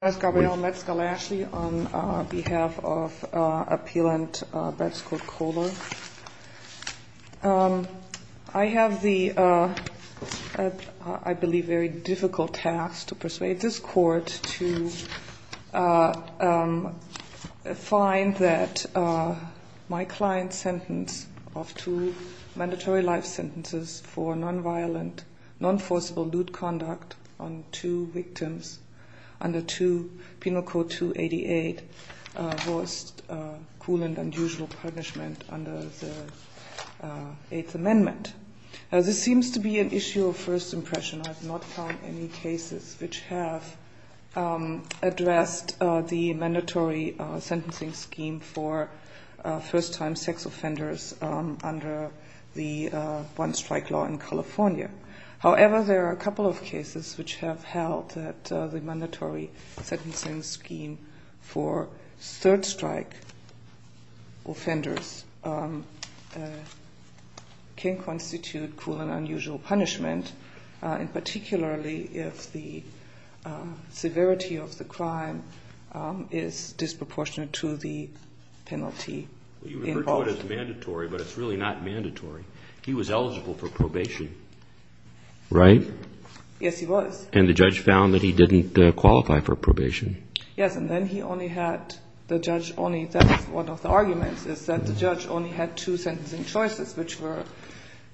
I have the, I believe, very difficult task to persuade this court to find that my client's sentence of two mandatory life sentences for non-violent, non-forcible lewd conduct on two victims under Penal Code 288 was cruel and unusual punishment under the Eighth Amendment. This seems to be an issue of first impression. I have not found any cases which have addressed the mandatory sentencing scheme for first-time sex offenders under the one-strike law in California. However, there are a couple of cases which have held that the mandatory sentencing scheme for third-strike offenders can constitute cruel and unusual punishment, particularly if the severity of the crime is disproportionate to the penalty involved. You refer to it as mandatory, but it's really not mandatory. He was eligible for probation. Right? Yes, he was. And the judge found that he didn't qualify for probation. Yes, and then he only had, the judge only, that was one of the arguments, is that the judge only had two sentencing choices which were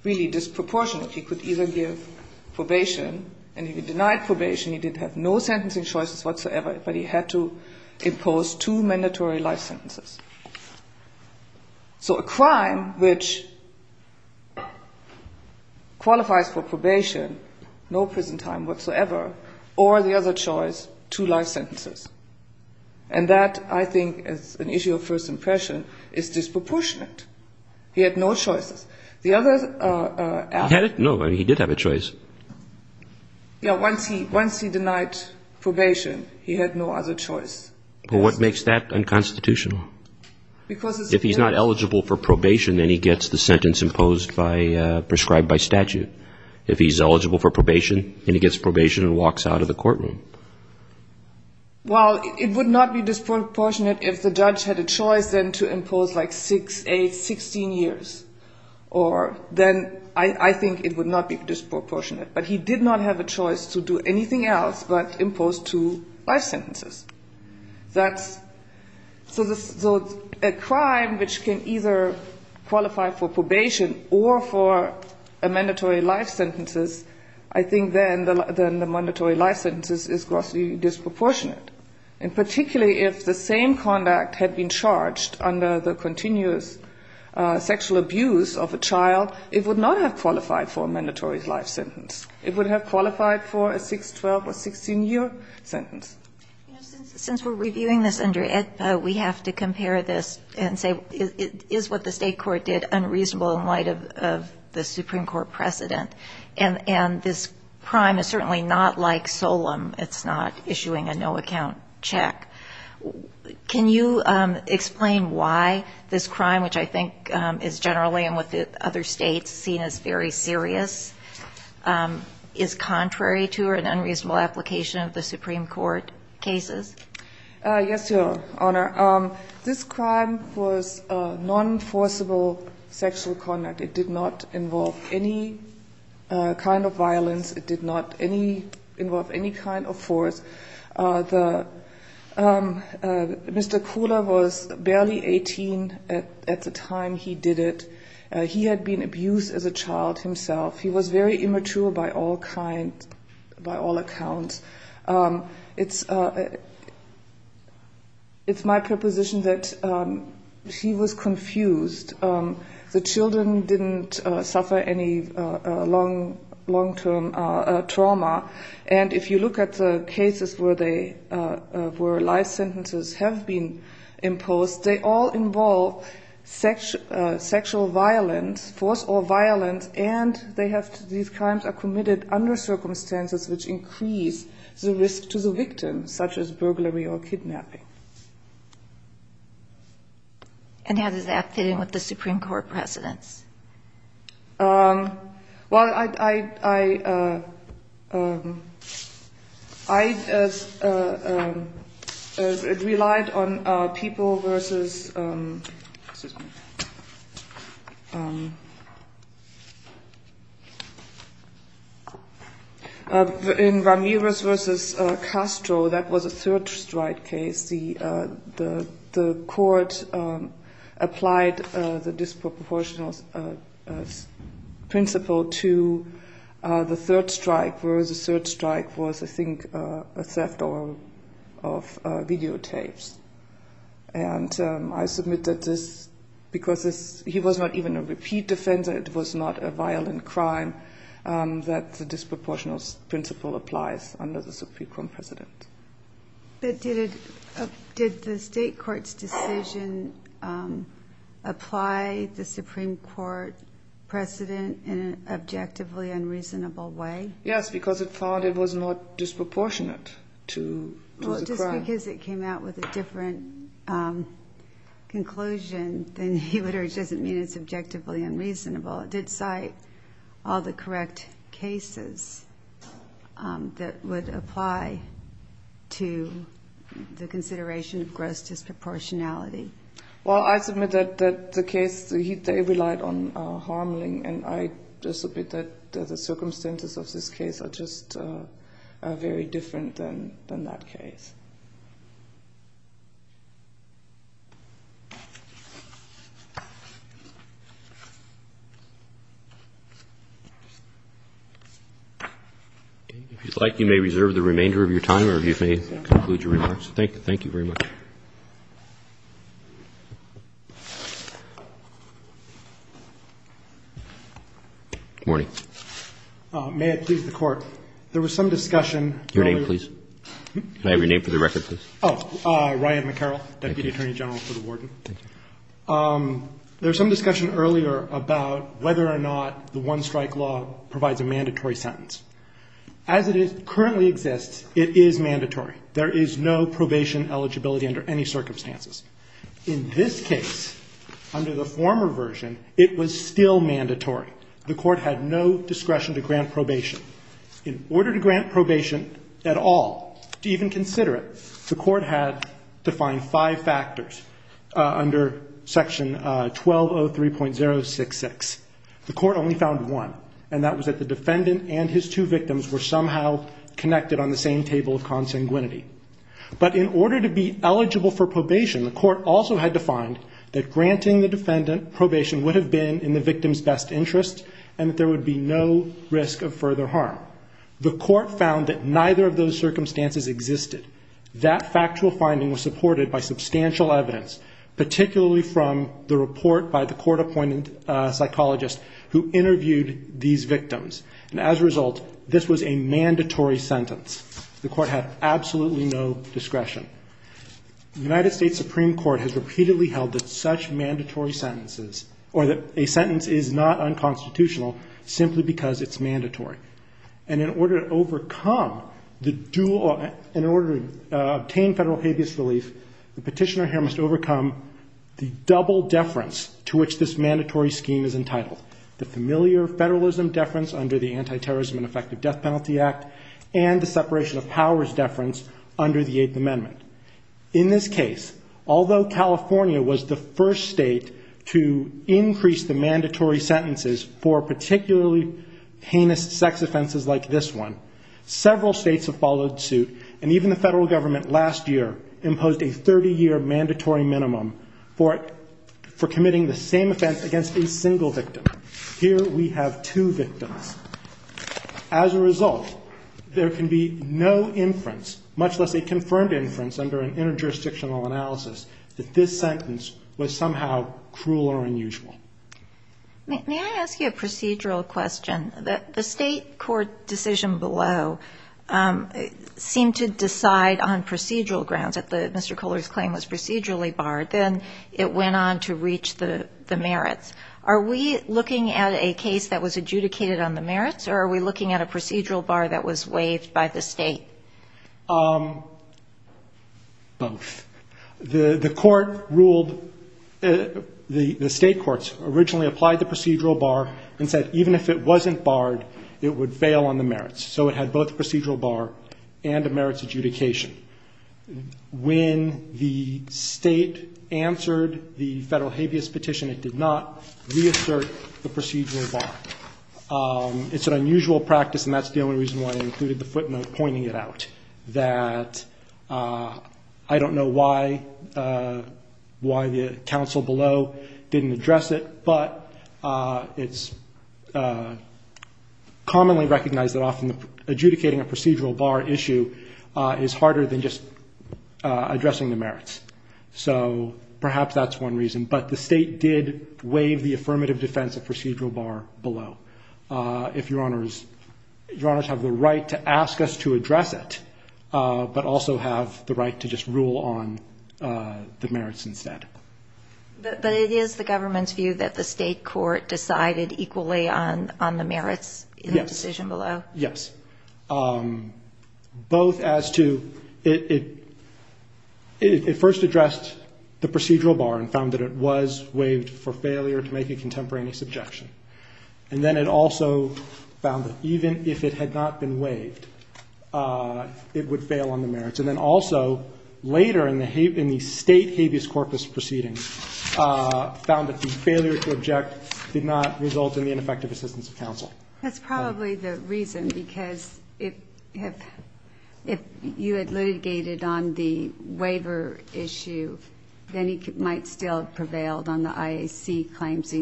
really disproportionate. He could either give probation, and if he denied probation, he did have no sentencing choices whatsoever, but he had to impose two mandatory life sentences. So a crime which qualifies for probation, no prison time whatsoever, or the other choice, two life sentences. And that, I think, is an issue of first impression, is disproportionate. He had no choices. No, he did have a choice. Yeah, once he denied probation, he had no other choice. But what makes that unconstitutional? Because it's... If he's not eligible for probation, then he gets the sentence imposed by, prescribed by statute. If he's eligible for probation, then he gets probation and walks out of the courtroom. Well, it would not be disproportionate if the judge had a choice, then, to impose, like, six, eight, 16 years. Or then, I think it would not be disproportionate. But he did not have a choice to do anything else but impose two life sentences. That's, so a crime which can either qualify for probation or for a mandatory life sentences, I think then the mandatory life sentences is grossly disproportionate. And particularly if the same conduct had been charged under the continuous sexual abuse of a child, it would not have qualified for a mandatory life sentence. It would have qualified for a six, 12, or 16-year sentence. You know, since we're reviewing this under AEDPA, we have to compare this and say, is what the state court did unreasonable in light of the Supreme Court precedent? And this crime is certainly not like Solem. It's not issuing a no-account check. Can you explain why this crime, which I think is generally, and with other states, seen as very serious, is contrary to or an unreasonable application of the Supreme Court cases? Yes, Your Honor. This crime was non-forcible sexual conduct. It did not involve any kind of violence. It did not involve any kind of force. Mr. Kula was barely 18 at the time he did it. He had been abused as a child himself. He was very immature by all accounts. It's my preposition that he was confused. The children didn't suffer any long-term trauma. And if you look at the cases where life sentences have been imposed, they all involve sexual violence, force or violence, and these crimes are committed under circumstances which increase the risk to the victim, such as burglary or kidnapping. And how does that fit in with the Supreme Court precedents? Well, I relied on people versus – excuse me – in Ramirez v. Castro. That was a third-strike case. The court applied the disproportionate principle to the third strike, whereas the third strike was, I think, a theft of videotapes. And I submit that because he was not even a repeat offender, it was not a violent crime that the disproportionate principle applies under the Supreme Court precedent. But did the State Court's decision apply the Supreme Court precedent in an objectively unreasonable way? Yes, because it found it was not disproportionate to the crime. Well, just because it came out with a different conclusion, then he literally doesn't mean it's objectively unreasonable. It did cite all the correct cases that would apply to the consideration of gross disproportionality. Well, I submit that the case – they relied on harming, and I just submit that the circumstances of this case are just very different than that case. If you'd like, you may reserve the remainder of your time or you may conclude your remarks. Thank you very much. Good morning. May it please the Court. There was some discussion. Your name, please. Can I have your name for the record, please? Oh, Ryan McCarroll, Deputy Attorney General. Thank you. There was some discussion earlier about whether or not the one-strike law provides a mandatory sentence. As it currently exists, it is mandatory. There is no probation eligibility under any circumstances. In this case, under the former version, it was still mandatory. The Court had no discretion to grant probation. In order to grant probation at all, to even consider it, the Court had to find five factors under Section 1203.066. The Court only found one, and that was that the defendant and his two victims were somehow connected on the same table of consanguinity. But in order to be eligible for probation, the Court also had to find that granting the defendant probation would have been in the victim's best interest and that there would be no risk of further harm. The Court found that neither of those circumstances existed. That factual finding was supported by substantial evidence, particularly from the report by the court-appointed psychologist who interviewed these victims. And as a result, this was a mandatory sentence. The Court had absolutely no discretion. The United States Supreme Court has repeatedly held that such mandatory sentences or that a sentence is not unconstitutional simply because it's mandatory. And in order to overcome the dual or in order to obtain federal habeas relief, the petitioner here must overcome the double deference to which this mandatory scheme is entitled, the familiar federalism deference under the Anti-Terrorism and Effective Death Penalty Act and the separation of powers deference under the Eighth Amendment. In this case, although California was the first state to increase the mandatory sentences for particularly heinous sex offenses like this one, several states have followed suit. And even the federal government last year imposed a 30-year mandatory minimum for committing the same offense against a single victim. Here we have two victims. As a result, there can be no inference, much less a confirmed inference under an interjurisdictional analysis, that this sentence was somehow cruel or unusual. May I ask you a procedural question? The state court decision below seemed to decide on procedural grounds, that Mr. Kohler's claim was procedurally barred. Then it went on to reach the merits. Are we looking at a case that was adjudicated on the merits, or are we looking at a procedural bar that was waived by the state? Both. The court ruled the state courts originally applied the procedural bar and said even if it wasn't barred, it would fail on the merits. So it had both a procedural bar and a merits adjudication. When the state answered the federal habeas petition, it did not reassert the procedural bar. It's an unusual practice, and that's the only reason why I included the footnote pointing it out, that I don't know why the counsel below didn't address it, but it's commonly recognized that often adjudicating a procedural bar issue is harder than just addressing the merits. So perhaps that's one reason. But the state did waive the affirmative defense of procedural bar below. If Your Honors have the right to ask us to address it, but also have the right to just rule on the merits instead. But it is the government's view that the state court decided equally on the merits in the decision below? Yes. Both as to it first addressed the procedural bar and found that it was waived for failure to make a contemporaneous objection. And then it also found that even if it had not been waived, it would fail on the merits. And then also later in the state habeas corpus proceedings, found that the failure to object did not result in the ineffective assistance of counsel. That's probably the reason, because if you had litigated on the waiver issue, then he might still have prevailed on the IAC claims.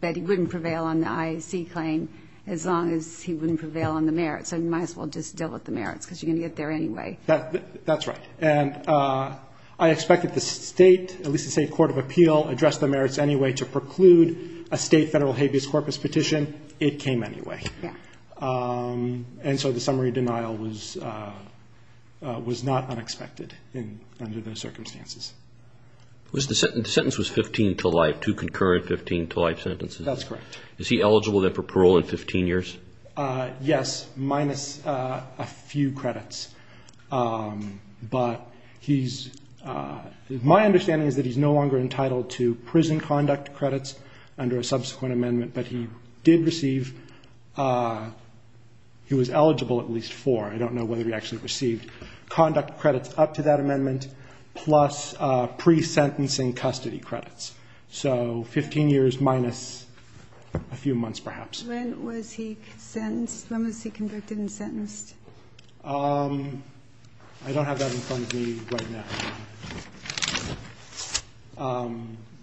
But he wouldn't prevail on the IAC claim as long as he wouldn't prevail on the merits. So you might as well just deal with the merits, because you're going to get there anyway. That's right. And I expect that the state, at least the state court of appeal, addressed the merits anyway to preclude a state federal habeas corpus petition. It came anyway. And so the summary denial was not unexpected under those circumstances. The sentence was 15 to life, two concurrent 15 to life sentences. That's correct. Is he eligible then for parole in 15 years? Yes, minus a few credits. But he's my understanding is that he's no longer entitled to prison conduct credits under a subsequent amendment. But he did receive, he was eligible at least for, I don't know whether he actually received, conduct credits up to that amendment plus pre-sentencing custody credits. So 15 years minus a few months perhaps. When was he sentenced? When was he convicted and sentenced? I don't have that in front of me right now.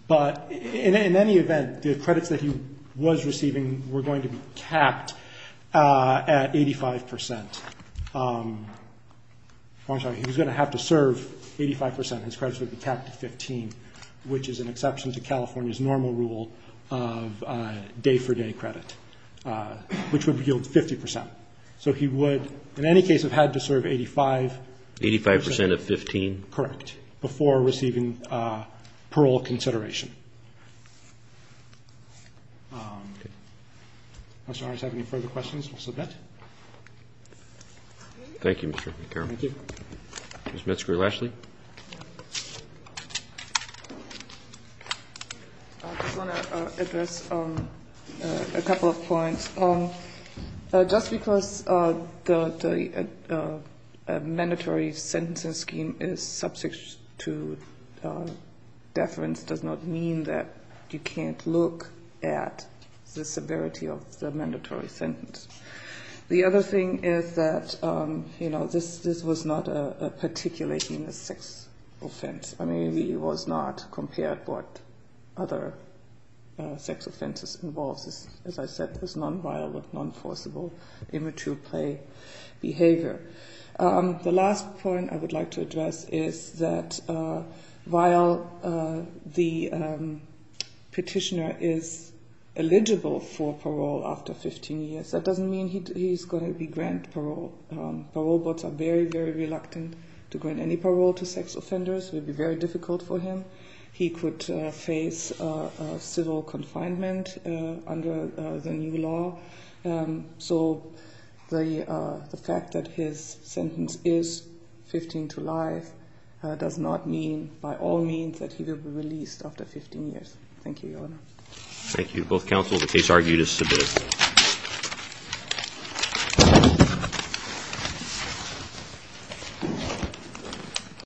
But in any event, the credits that he was receiving were going to be capped at 85 percent. I'm sorry, he was going to have to serve 85 percent. His credits would be capped at 15, which is an exception to California's normal rule of day-for-day credit, which would yield 50 percent. So he would, in any case, have had to serve 85 percent. Eighty-five percent of 15? Correct, before receiving parole consideration. Okay. If Mr. Harris has any further questions, we'll submit. Thank you, Mr. McCarroll. Thank you. Ms. Metzger-Lashley. I just want to address a couple of points. Just because the mandatory sentencing scheme is substitute deference does not mean that you can't look at the severity of the mandatory sentence. The other thing is that, you know, this was not a particular sex offense. I mean, it was not compared to what other sex offenses involved. As I said, it was nonviolent, non-forcible immature play behavior. The last point I would like to address is that, while the petitioner is eligible for parole after 15 years, that doesn't mean he's going to be granted parole. Parole boards are very, very reluctant to grant any parole to sex offenders. It would be very difficult for him. He could face civil confinement under the new law. So the fact that his sentence is 15 to life does not mean, by all means, that he will be released after 15 years. Thank you, Your Honor. Thank you to both counsel. The case argued is submitted.